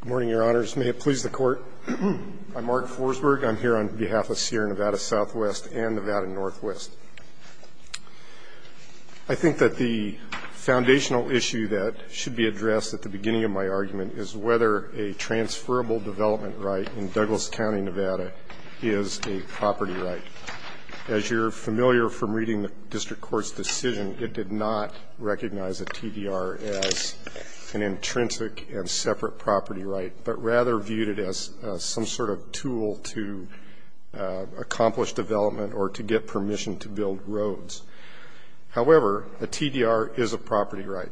Good morning, your honors. May it please the court. I'm Mark Forsberg. I'm here on behalf of Sierra Nevada SW and Nevada NW. I think that the foundational issue that should be addressed at the beginning of my argument is whether a transferable development right in Douglas County, Nevada is a property right. As you're familiar from reading the district court's decision, it did not recognize a TDR as an intrinsic and separate property right, but rather viewed it as some sort of tool to accomplish development or to get permission to build roads. However, a TDR is a property right.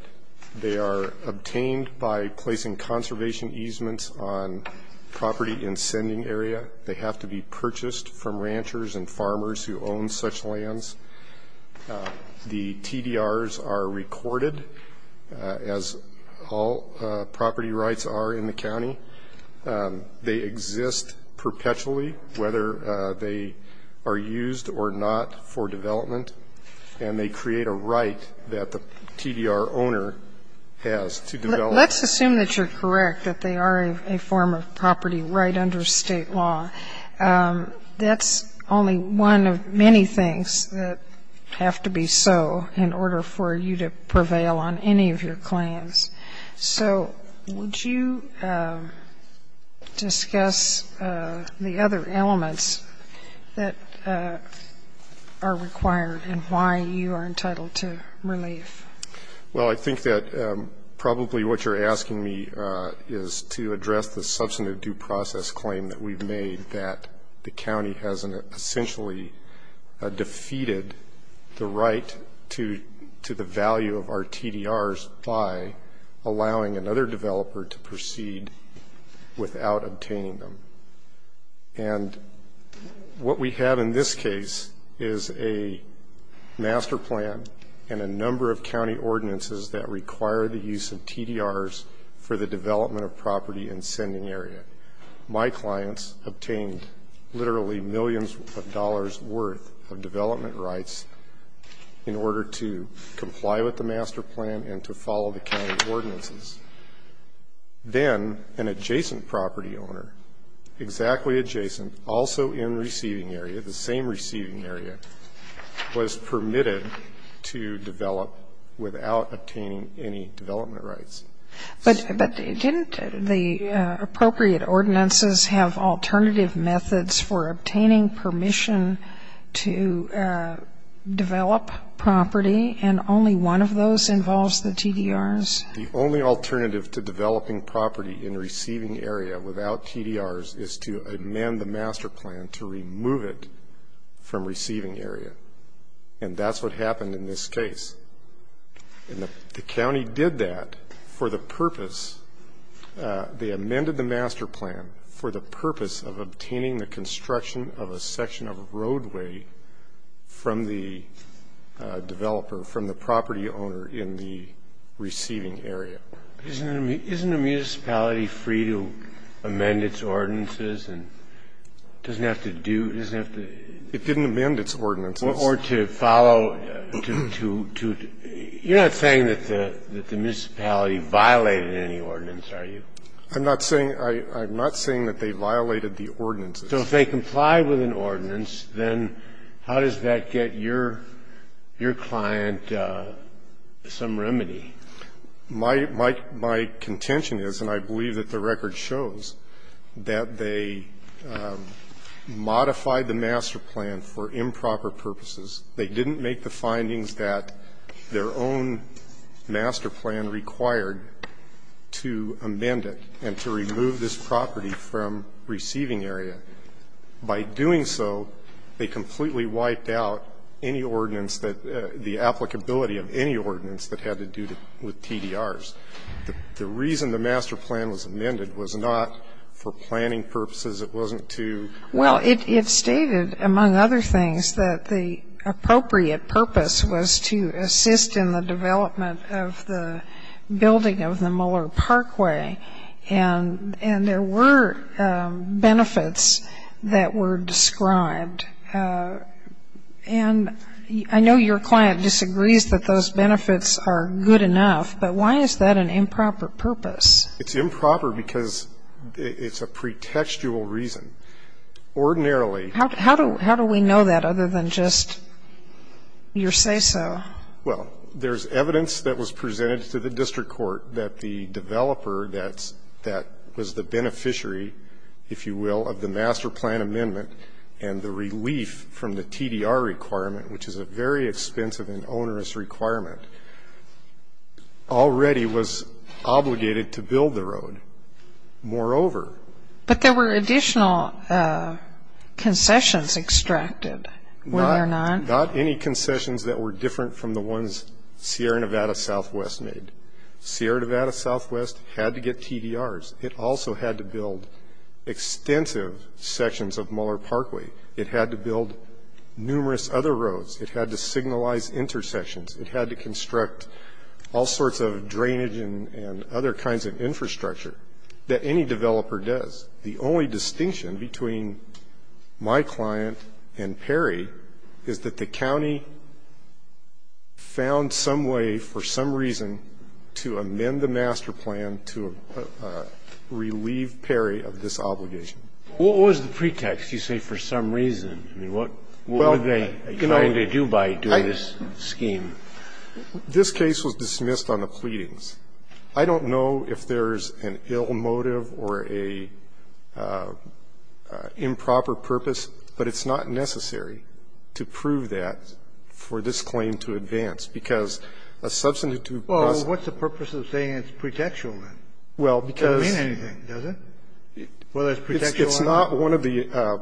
They are obtained by placing conservation easements on property in sending area. They have to be purchased from ranchers and farmers who own such lands. The TDRs are recorded, as all property rights are in the county. They exist perpetually, whether they are used or not for development, and they create a right that the TDR owner has to develop. So let's assume that you're correct, that they are a form of property right under State law. That's only one of many things that have to be so in order for you to prevail on any of your claims. So would you discuss the other elements that are required and why you are entitled to relief? Well, I think that probably what you're asking me is to address the substantive due process claim that we've made that the county has essentially defeated the right to the value of our TDRs by allowing another developer to proceed without obtaining them. And what we have in this case is a master plan and a number of county ordinances that require the use of TDRs for the development of property in sending area. My clients obtained literally millions of dollars worth of development rights in order to comply with the master plan and to follow the county ordinances. Then an adjacent property owner, exactly adjacent, also in receiving area, the same receiving area, was permitted to develop without obtaining any development rights. But didn't the appropriate ordinances have alternative methods for obtaining permission to develop property, and only one of those involves the TDRs? The only alternative to developing property in receiving area without TDRs is to amend the master plan to remove it from receiving area, and that's what happened in this case. And the county did that for the purpose, they amended the master plan for the purpose of obtaining the construction of a section of roadway from the developer, from the property owner in the receiving area. Isn't a municipality free to amend its ordinances and doesn't have to do, doesn't have to? It didn't amend its ordinances. Or to follow, to, to, to, you're not saying that the municipality violated any ordinance, are you? I'm not saying, I'm not saying that they violated the ordinances. So if they complied with an ordinance, then how does that get your, your client some remedy? My, my, my contention is, and I believe that the record shows, that they modified the master plan for improper purposes. They didn't make the findings that their own master plan required to amend it and to remove this property from receiving area. And by doing so, they completely wiped out any ordinance that, the applicability of any ordinance that had to do with TDRs. The reason the master plan was amended was not for planning purposes. It wasn't to. Well, it, it stated, among other things, that the appropriate purpose was to assist in the development of the building of the Muller Parkway. And, and there were benefits that were described. And I know your client disagrees that those benefits are good enough, but why is that an improper purpose? It's improper because it's a pretextual reason. Ordinarily. How, how do, how do we know that other than just your say-so? Well, there's evidence that was presented to the district court that the developer that's, that was the beneficiary, if you will, of the master plan amendment and the relief from the TDR requirement, which is a very expensive and onerous requirement, already was obligated to build the road. Moreover. But there were additional concessions extracted, were there not? Not any concessions that were different from the ones Sierra Nevada Southwest made. Sierra Nevada Southwest had to get TDRs. It also had to build extensive sections of Muller Parkway. It had to build numerous other roads. It had to signalize intersections. It had to construct all sorts of drainage and, and other kinds of infrastructure that any developer does. The only distinction between my client and Perry is that the county found some way for some reason to amend the master plan to relieve Perry of this obligation. What was the pretext? You say for some reason. I mean, what, what were they trying to do by doing this scheme? This case was dismissed on the pleadings. I don't know if there's an ill motive or a improper purpose, but it's not necessary to prove that for this claim to advance, because a substantive cause. Well, what's the purpose of saying it's pretextual, then? Well, because. It doesn't mean anything, does it? Whether it's pretextual or not. It's not one of the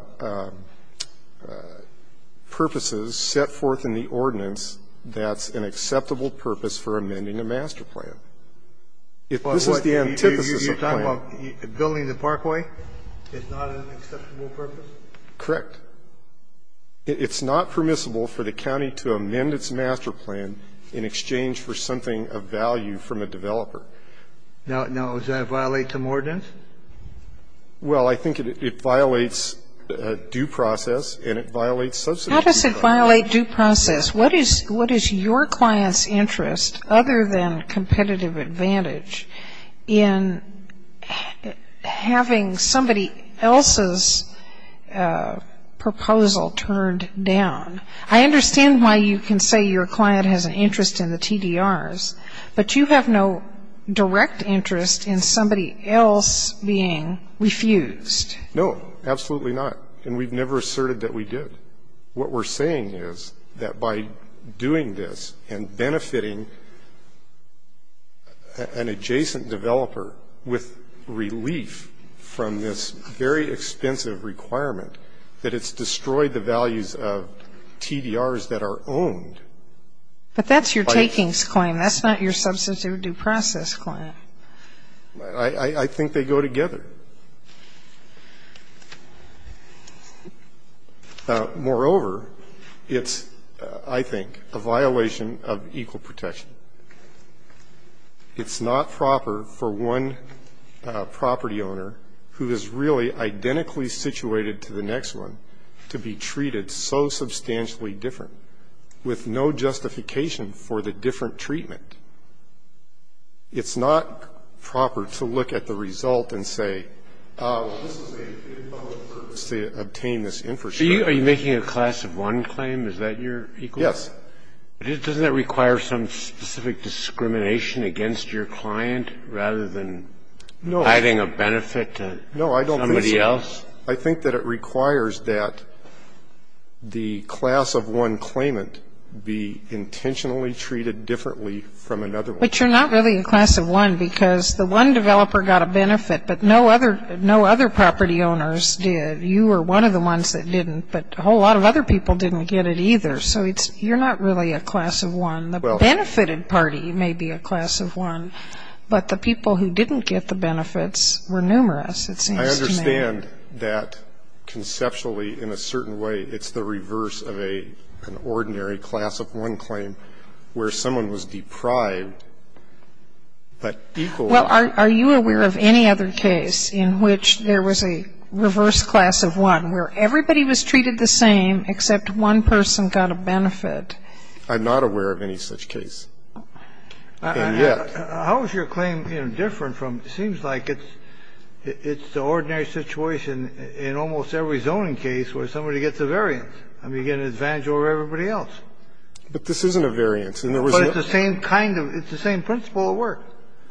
purposes set forth in the ordinance that's an acceptable purpose for amending a master plan. If this is the antithesis of the plan. You're talking about building the parkway is not an acceptable purpose? Correct. It's not permissible for the county to amend its master plan in exchange for something of value from a developer. Now, does that violate the ordinance? Well, I think it violates due process and it violates substantive due process. How does it violate due process? Well, let me ask you this. What is your client's interest, other than competitive advantage, in having somebody else's proposal turned down? I understand why you can say your client has an interest in the TDRs, but you have no direct interest in somebody else being refused. No, absolutely not. And we've never asserted that we did. What we're saying is that by doing this and benefiting an adjacent developer with relief from this very expensive requirement, that it's destroyed the values of TDRs that are owned. But that's your takings claim. That's not your substantive due process claim. I think they go together. Moreover, it's, I think, a violation of equal protection. It's not proper for one property owner who is really identically situated to the next one to be treated so substantially different with no justification for the different treatment. It's not proper to look at the result and say, ah, well, this was made for the purpose to obtain this infrastructure. Are you making a class of one claim? Is that your equal? Yes. But doesn't that require some specific discrimination against your client, rather than adding a benefit to somebody else? No, I don't think so. I think that it requires that the class of one claimant be intentionally treated differently from another one. But you're not really a class of one because the one developer got a benefit, but no other property owners did. You were one of the ones that didn't, but a whole lot of other people didn't get it either. So you're not really a class of one. The benefited party may be a class of one, but the people who didn't get the benefits were numerous, it seems to me. I understand that conceptually, in a certain way, it's the reverse of an ordinary class of one claim where someone was deprived, but equal. Well, are you aware of any other case in which there was a reverse class of one, where everybody was treated the same except one person got a benefit? I'm not aware of any such case. And yet. How is your claim, you know, different from, it seems like it's the ordinary situation in almost every zoning case where somebody gets a variance. I mean, you get an advantage over everybody else. But this isn't a variance. But it's the same kind of, it's the same principle at work.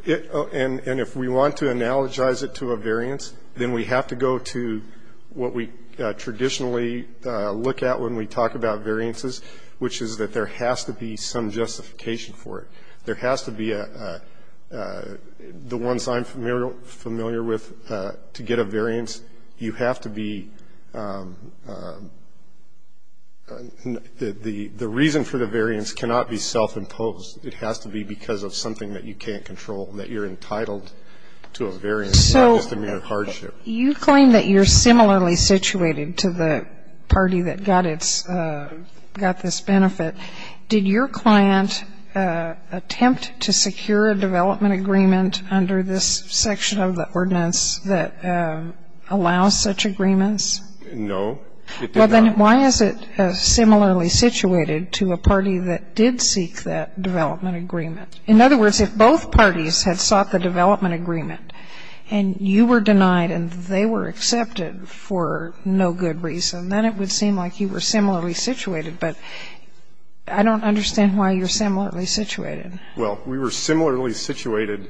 And if we want to analogize it to a variance, then we have to go to what we traditionally look at when we talk about variances, which is that there has to be some justification for it. There has to be a, the ones I'm familiar with, to get a variance, you have to be, the reason for the variance cannot be self-imposed. It has to be because of something that you can't control, that you're entitled to a variance, not just a mere hardship. So you claim that you're similarly situated to the party that got its, got this benefit. Did your client attempt to secure a development agreement under this section of the ordinance that allows such agreements? It did not. Well, then why is it similarly situated to a party that did seek that development agreement? In other words, if both parties had sought the development agreement and you were denied and they were accepted for no good reason, then it would seem like you were denied the development agreement. I don't understand why you're similarly situated. Well, we were similarly situated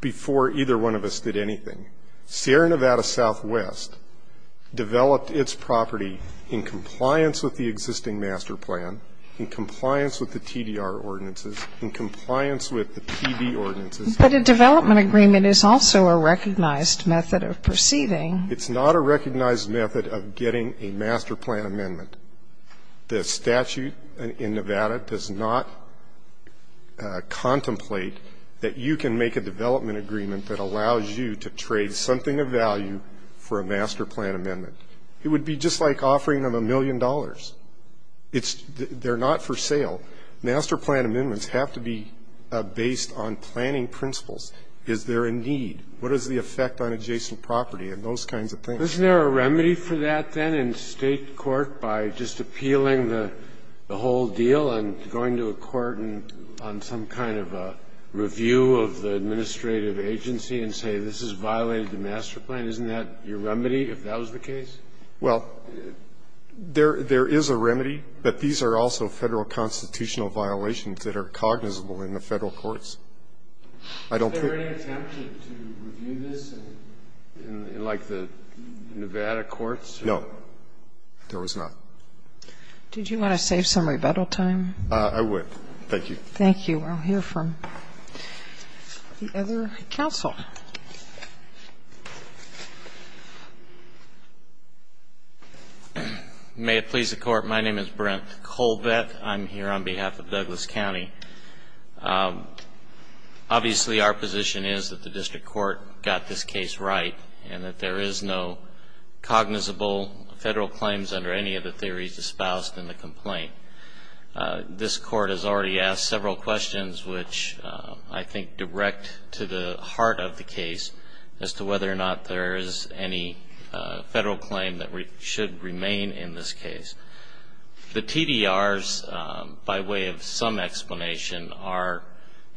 before either one of us did anything. Sierra Nevada Southwest developed its property in compliance with the existing master plan, in compliance with the TDR ordinances, in compliance with the PB ordinances. But a development agreement is also a recognized method of perceiving. It's not a recognized method of getting a master plan amendment. The statute in Nevada does not contemplate that you can make a development agreement that allows you to trade something of value for a master plan amendment. It would be just like offering them a million dollars. They're not for sale. Master plan amendments have to be based on planning principles. Is there a need? What is the effect on adjacent property? And those kinds of things. Isn't there a remedy for that then in State court by just appealing the whole deal and going to a court and on some kind of a review of the administrative agency and say this has violated the master plan? Isn't that your remedy if that was the case? Well, there is a remedy, but these are also Federal constitutional violations that are cognizable in the Federal courts. I don't think. Are there any attempts to review this in like the Nevada courts? No. There was not. Did you want to save some rebuttal time? I would. Thank you. Thank you. I'll hear from the other counsel. May it please the Court. My name is Brent Colvett. I'm here on behalf of Douglas County. Obviously, our position is that the District Court got this case right and that there is no cognizable Federal claims under any of the theories espoused in the complaint. This Court has already asked several questions, which I think direct to the heart of the case as to whether or not there is any Federal claim that should remain in this case. The TDRs, by way of some explanation, are,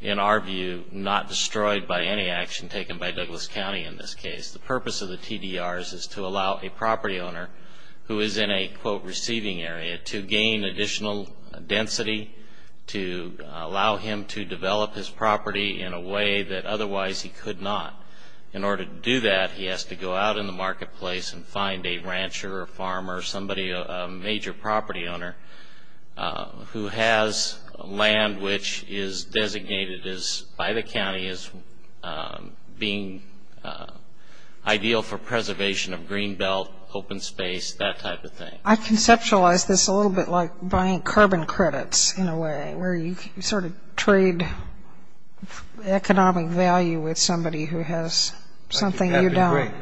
in our view, not destroyed by any action taken by Douglas County in this case. The purpose of the TDRs is to allow a property owner who is in a, quote, receiving area to gain additional density to allow him to develop his property in a way that otherwise he could not. In order to do that, he has to go out in the marketplace and find a rancher or farmer or somebody, a major property owner, who has land which is designated by the county as being ideal for preservation of green belt, open space, that type of thing. I conceptualize this a little bit like buying carbon credits in a way, where you sort of trade economic value with somebody who has something you don't.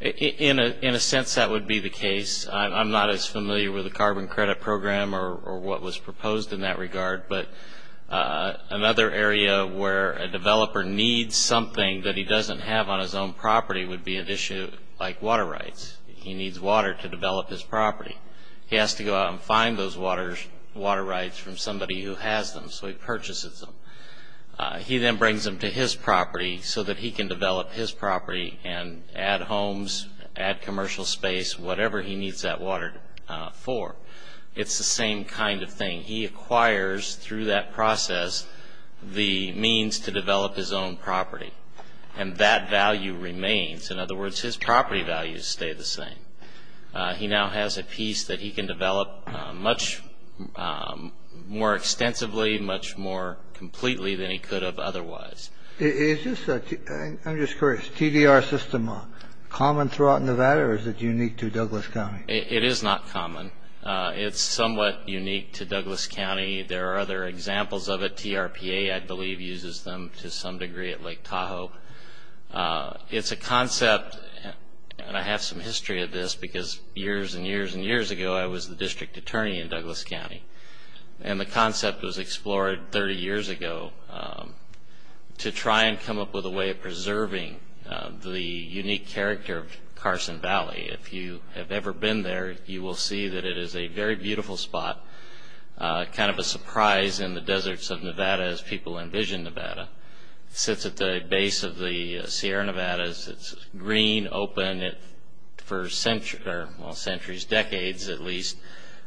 In a sense, that would be the case. I'm not as familiar with the carbon credit program or what was proposed in that regard, but another area where a developer needs something that he doesn't have on his own property would be an issue like water rights. He needs water to develop his property. He has to go out and find those water rights from somebody who has them, so he purchases them. He then brings them to his property so that he can develop his property and add homes, add commercial space, whatever he needs that water for. It's the same kind of thing. He acquires through that process the means to develop his own property, and that value remains. In other words, his property values stay the same. He now has a piece that he can develop much more extensively, much more completely than he could have otherwise. I'm just curious. Is TDR system common throughout Nevada, or is it unique to Douglas County? It is not common. It's somewhat unique to Douglas County. There are other examples of it. TRPA, I believe, uses them to some degree at Lake Tahoe. It's a concept, and I have some history of this, because years and years and years ago I was the district attorney in Douglas County, and the concept was explored 30 years ago to try and come up with a way of preserving the unique character of Carson Valley. If you have ever been there, you will see that it is a very beautiful spot, kind of a surprise in the deserts of Nevada as people envision Nevada. It sits at the base of the Sierra Nevadas. It's green, open. For centuries, decades at least, it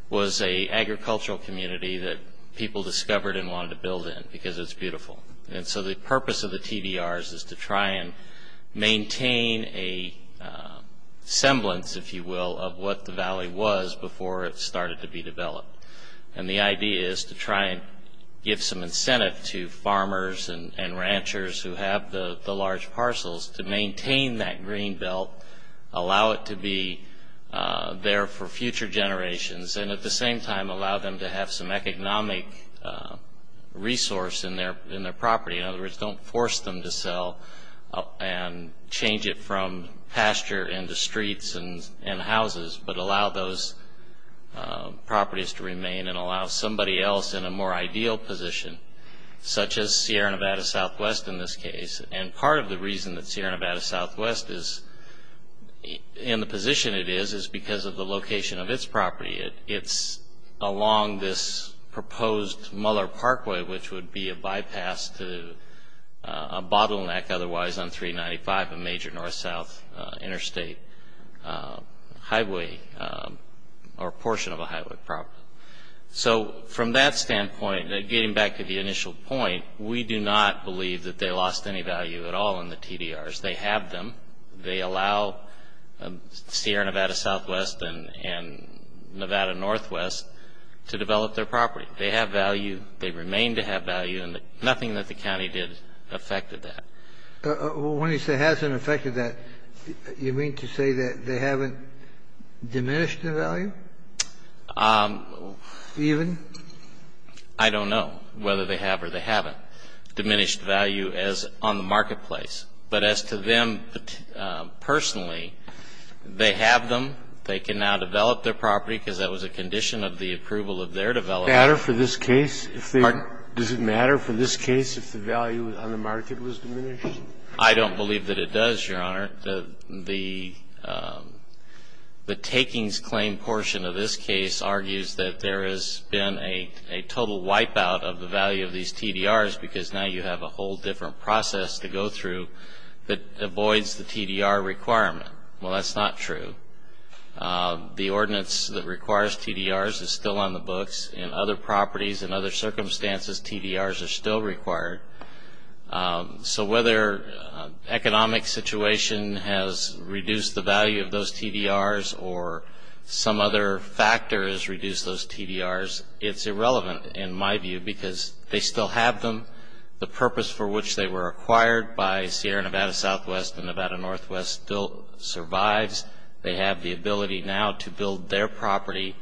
was an agricultural community that people discovered and wanted to build in because it's beautiful. So the purpose of the TDRs is to try and maintain a semblance, if you will, and the idea is to try and give some incentive to farmers and ranchers who have the large parcels to maintain that green belt, allow it to be there for future generations, and at the same time allow them to have some economic resource in their property. In other words, don't force them to sell and change it from pasture into streets and houses, but allow those properties to remain and allow somebody else in a more ideal position, such as Sierra Nevada Southwest in this case. And part of the reason that Sierra Nevada Southwest is in the position it is is because of the location of its property. It's along this proposed Muller Parkway, which would be a bypass to a bottleneck otherwise on 395, a major north-south interstate highway or portion of a highway property. So from that standpoint, getting back to the initial point, we do not believe that they lost any value at all in the TDRs. They have them. They allow Sierra Nevada Southwest and Nevada Northwest to develop their property. They have value. They remain to have value, and nothing that the county did affected that. Kennedy, when you said doesn't affected that, you mean to say that they haven't diminished the value? Um. Even? I don't know whether they have or they haven't diminished value as on the marketplace. But as to them personally, they have them. They can now develop their property because that was a condition of the approval of their development. Does it matter for this case if the value on the market was diminished? I don't believe that it does, Your Honor. The takings claim portion of this case argues that there has been a total wipeout of the value of these TDRs because now you have a whole different process to go through that avoids the TDR requirement. Well, that's not true. The ordinance that requires TDRs is still on the books. In other properties and other circumstances, TDRs are still required. So whether economic situation has reduced the value of those TDRs or some other factor has reduced those TDRs, it's irrelevant in my view because they still have them. The purpose for which they were acquired by Sierra Nevada Southwest and Nevada Northwest still survives. They have the ability now to build their property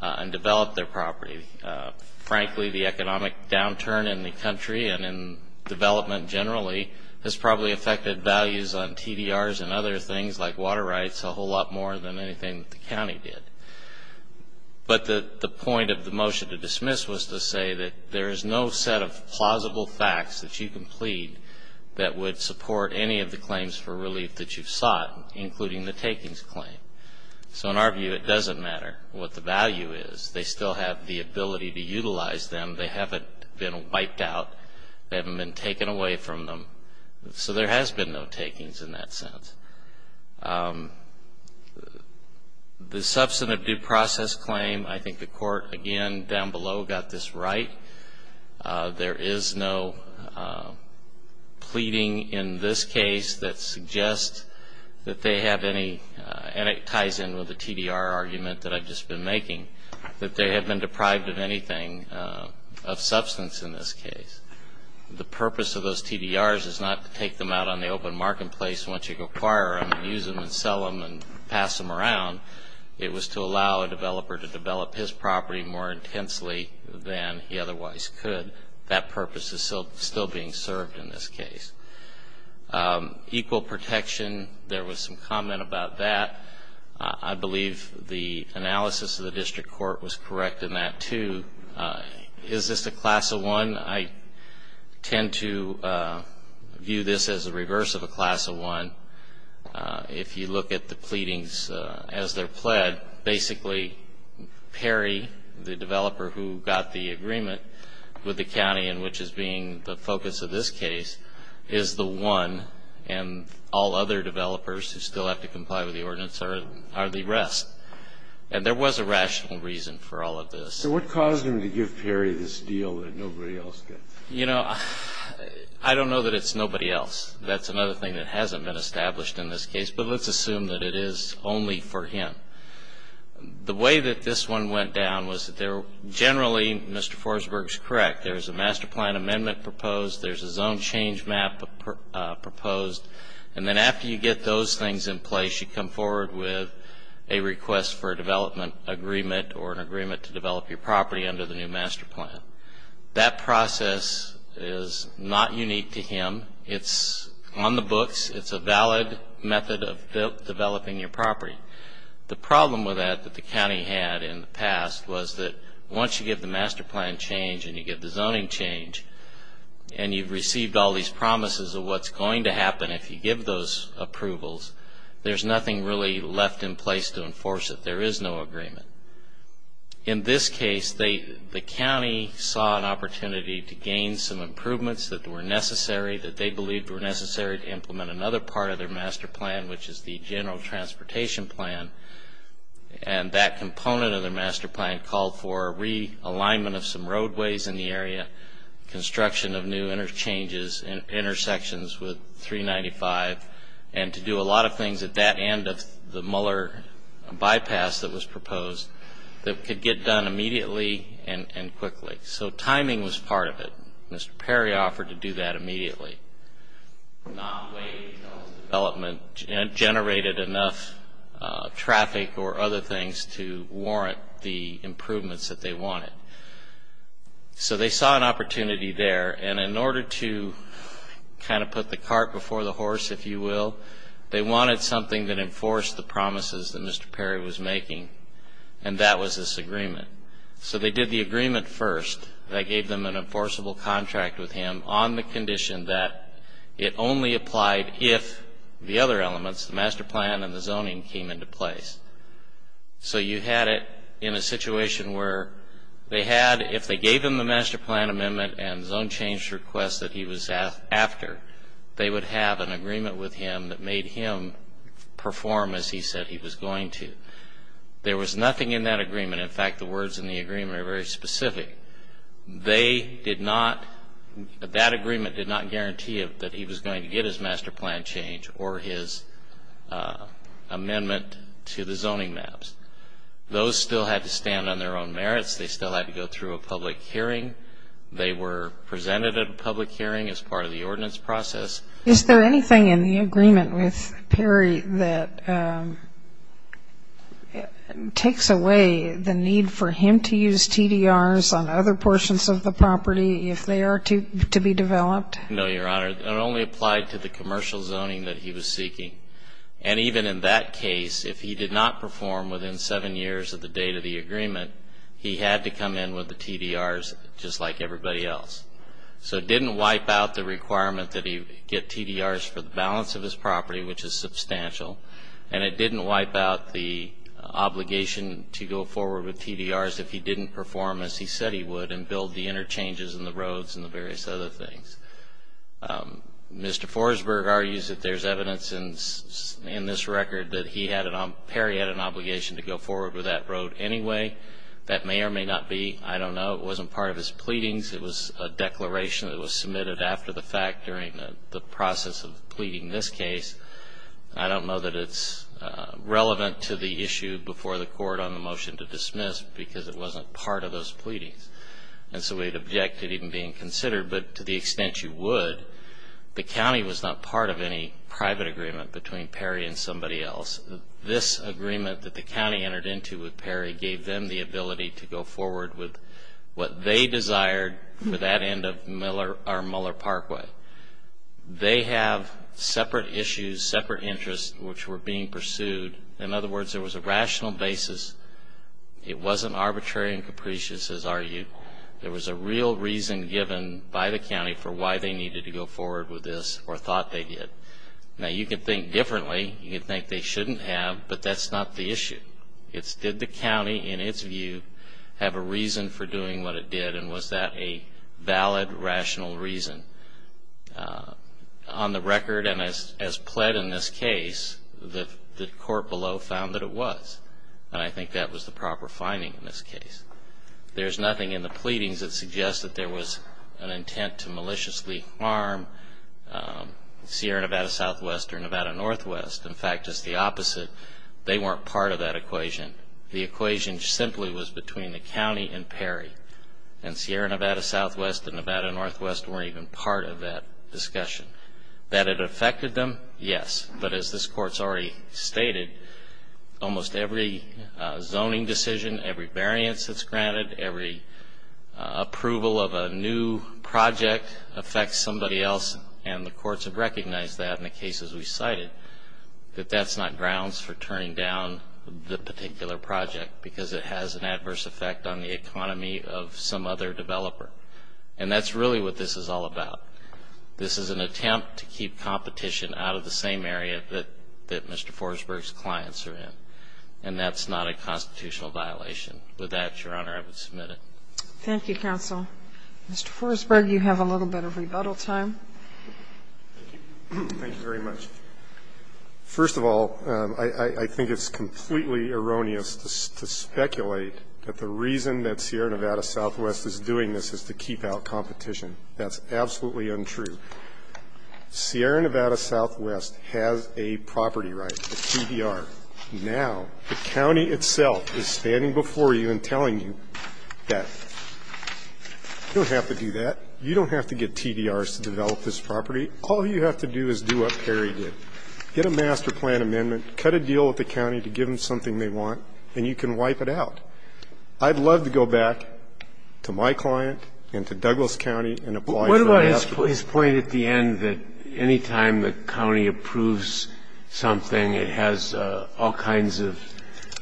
and develop their property. Frankly, the economic downturn in the country and in development generally has probably affected values on TDRs and other things like water rights a whole lot more than anything the county did. But the point of the motion to dismiss was to say that there is no set of plausible facts that you can plead that would support any of the claims for relief that you've sought, including the takings claim. So in our view, it doesn't matter what the value is. They still have the ability to utilize them. They haven't been wiped out. They haven't been taken away from them. So there has been no takings in that sense. The substantive due process claim, I think the court, again, down below, got this right. There is no pleading in this case that suggests that they have any, and it ties in with the TDR argument that I've just been making, that they have been deprived of anything of substance in this case. The purpose of those TDRs is not to take them out on the open marketplace once you acquire them and use them and sell them and pass them around. It was to allow a developer to develop his property more intensely than he otherwise could. That purpose is still being served in this case. Equal protection, there was some comment about that. I believe the analysis of the district court was correct in that, too. Is this a class of one? I tend to view this as the reverse of a class of one. If you look at the pleadings as they're pled, basically Perry, the developer who got the agreement with the county in which is being the focus of this case, is the one, and all other developers who still have to comply with the ordinance are the rest. And there was a rational reason for all of this. So what caused them to give Perry this deal that nobody else gets? You know, I don't know that it's nobody else. That's another thing that hasn't been established in this case, but let's assume that it is only for him. The way that this one went down was that they're generally, Mr. Forsberg's correct, there's a master plan amendment proposed, there's a zone change map proposed, and then after you get those things in place, you come forward with a request for a development agreement or an agreement to develop your property under the new master plan. That process is not unique to him. It's on the books. It's a valid method of developing your property. The problem with that that the county had in the past was that once you give the master plan change and you give the zoning change, and you've received all these promises of what's going to happen if you give those approvals, there's nothing really left in place to enforce it. There is no agreement. In this case, the county saw an opportunity to gain some improvements that were necessary, that they believed were necessary to implement another part of their master plan, which is the general transportation plan, and that component of their master plan called for realignment of some roadways in the area, construction of new interchanges and intersections with 395, and to do a lot of things at that end of the Muller bypass that was proposed that could get done immediately and quickly. So timing was part of it. Mr. Perry offered to do that immediately, not wait until his development generated enough traffic or other things to warrant the improvements that they wanted. So they saw an opportunity there, and in order to kind of put the cart before the horse, if you will, they wanted something that enforced the promises that Mr. Perry was making, and that was this agreement. So they did the agreement first. They gave them an enforceable contract with him on the condition that it only applied if the other elements, the master plan and the zoning, came into place. So you had it in a situation where they had, if they gave him the master plan amendment and zone change request that he was after, they would have an agreement with him that made him perform as he said he was going to. There was nothing in that agreement. In fact, the words in the agreement are very specific. They did not, that agreement did not guarantee that he was going to get his master plan change or his amendment to the zoning maps. Those still had to stand on their own merits. They still had to go through a public hearing. They were presented at a public hearing as part of the ordinance process. Is there anything in the agreement with Perry that takes away the need for him to use TDRs on other portions of the property if they are to be developed? No, Your Honor. It only applied to the commercial zoning that he was seeking. And even in that case, if he did not perform within seven years of the date of the agreement, he had to come in with the TDRs just like everybody else. So it didn't wipe out the requirement that he get TDRs for the balance of his property, which is substantial, and it didn't wipe out the obligation to go forward with TDRs if he didn't perform as he said he would and build the interchanges and the roads and the various other things. Mr. Forsberg argues that there's evidence in this record that Perry had an obligation to go forward with that road anyway. That may or may not be. I don't know. It wasn't part of his pleadings. It was a declaration that was submitted after the fact during the process of pleading this case. I don't know that it's relevant to the issue before the Court on the motion to dismiss because it wasn't part of those pleadings. And so we'd object to it even being considered. But to the extent you would, the county was not part of any private agreement between Perry and somebody else. This agreement that the county entered into with Perry gave them the ability to go forward with what they desired for that end of Miller Parkway. They have separate issues, separate interests, which were being pursued. In other words, there was a rational basis. It wasn't arbitrary and capricious, as argued. There was a real reason given by the county for why they needed to go forward with this or thought they did. Now, you can think differently. You can think they shouldn't have, but that's not the issue. It's did the county, in its view, have a reason for doing what it did and was that a valid, rational reason. On the record and as pled in this case, the court below found that it was. And I think that was the proper finding in this case. There's nothing in the pleadings that suggests that there was an intent to maliciously harm Sierra Nevada Southwest or Nevada Northwest. In fact, it's the opposite. They weren't part of that equation. The equation simply was between the county and Perry. And Sierra Nevada Southwest and Nevada Northwest weren't even part of that discussion. That it affected them, yes. But as this Court's already stated, almost every zoning decision, every variance that's granted, every approval of a new project affects somebody else, and the courts have recognized that in the cases we cited, that that's not grounds for turning down the particular project because it has an adverse effect on the economy of some other developer. And that's really what this is all about. This is an attempt to keep competition out of the same area that Mr. Forsberg's clients are in, and that's not a constitutional violation. With that, Your Honor, I would submit it. Thank you, counsel. Mr. Forsberg, you have a little bit of rebuttal time. Thank you. Thank you very much. First of all, I think it's completely erroneous to speculate that the reason that Sierra Nevada Southwest is doing this is to keep out competition. That's absolutely untrue. Sierra Nevada Southwest has a property right, a PDR. Now the county itself is standing before you and telling you that you don't have to do that. You don't have to get TDRs to develop this property. All you have to do is do what Perry did, get a master plan amendment, cut a deal with the county to give them something they want, and you can wipe it out. I'd love to go back to my client and to Douglas County and apply for that. His point at the end that any time the county approves something, it has all kinds of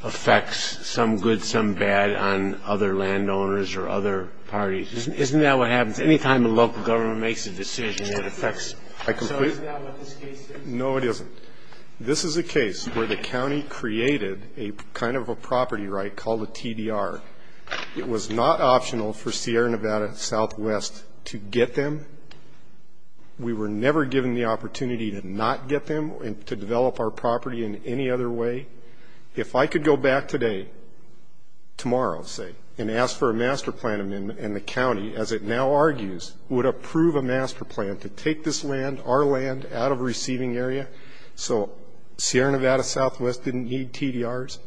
effects, some good, some bad, on other landowners or other parties. Isn't that what happens? Any time a local government makes a decision, it affects it. So is that what this case is? No, it isn't. This is a case where the county created a kind of a property right called a TDR. It was not optional for Sierra Nevada Southwest to get them. We were never given the opportunity to not get them and to develop our property in any other way. If I could go back today, tomorrow, say, and ask for a master plan amendment, and the county, as it now argues, would approve a master plan to take this land, our land, out of a receiving area so Sierra Nevada Southwest didn't need TDRs,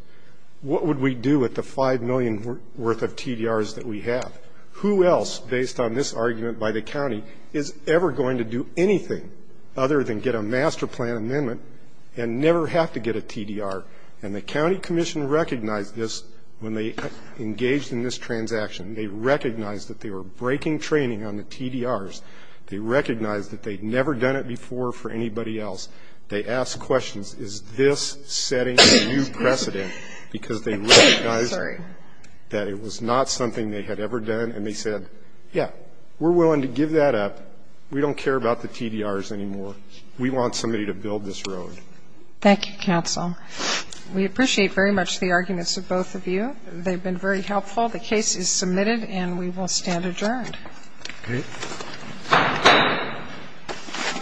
what would we do with the $5 million worth of TDRs that we have? Who else, based on this argument by the county, is ever going to do anything other than get a master plan amendment and never have to get a TDR? And the county commission recognized this when they engaged in this transaction. They recognized that they were breaking training on the TDRs. They recognized that they'd never done it before for anybody else. They asked questions, is this setting a new precedent? Because they recognized that it was not something they had ever done. And they said, yeah, we're willing to give that up. We don't care about the TDRs anymore. We want somebody to build this road. Thank you, counsel. We appreciate very much the arguments of both of you. They've been very helpful. The case is submitted, and we will stand adjourned. Okay. Thank you.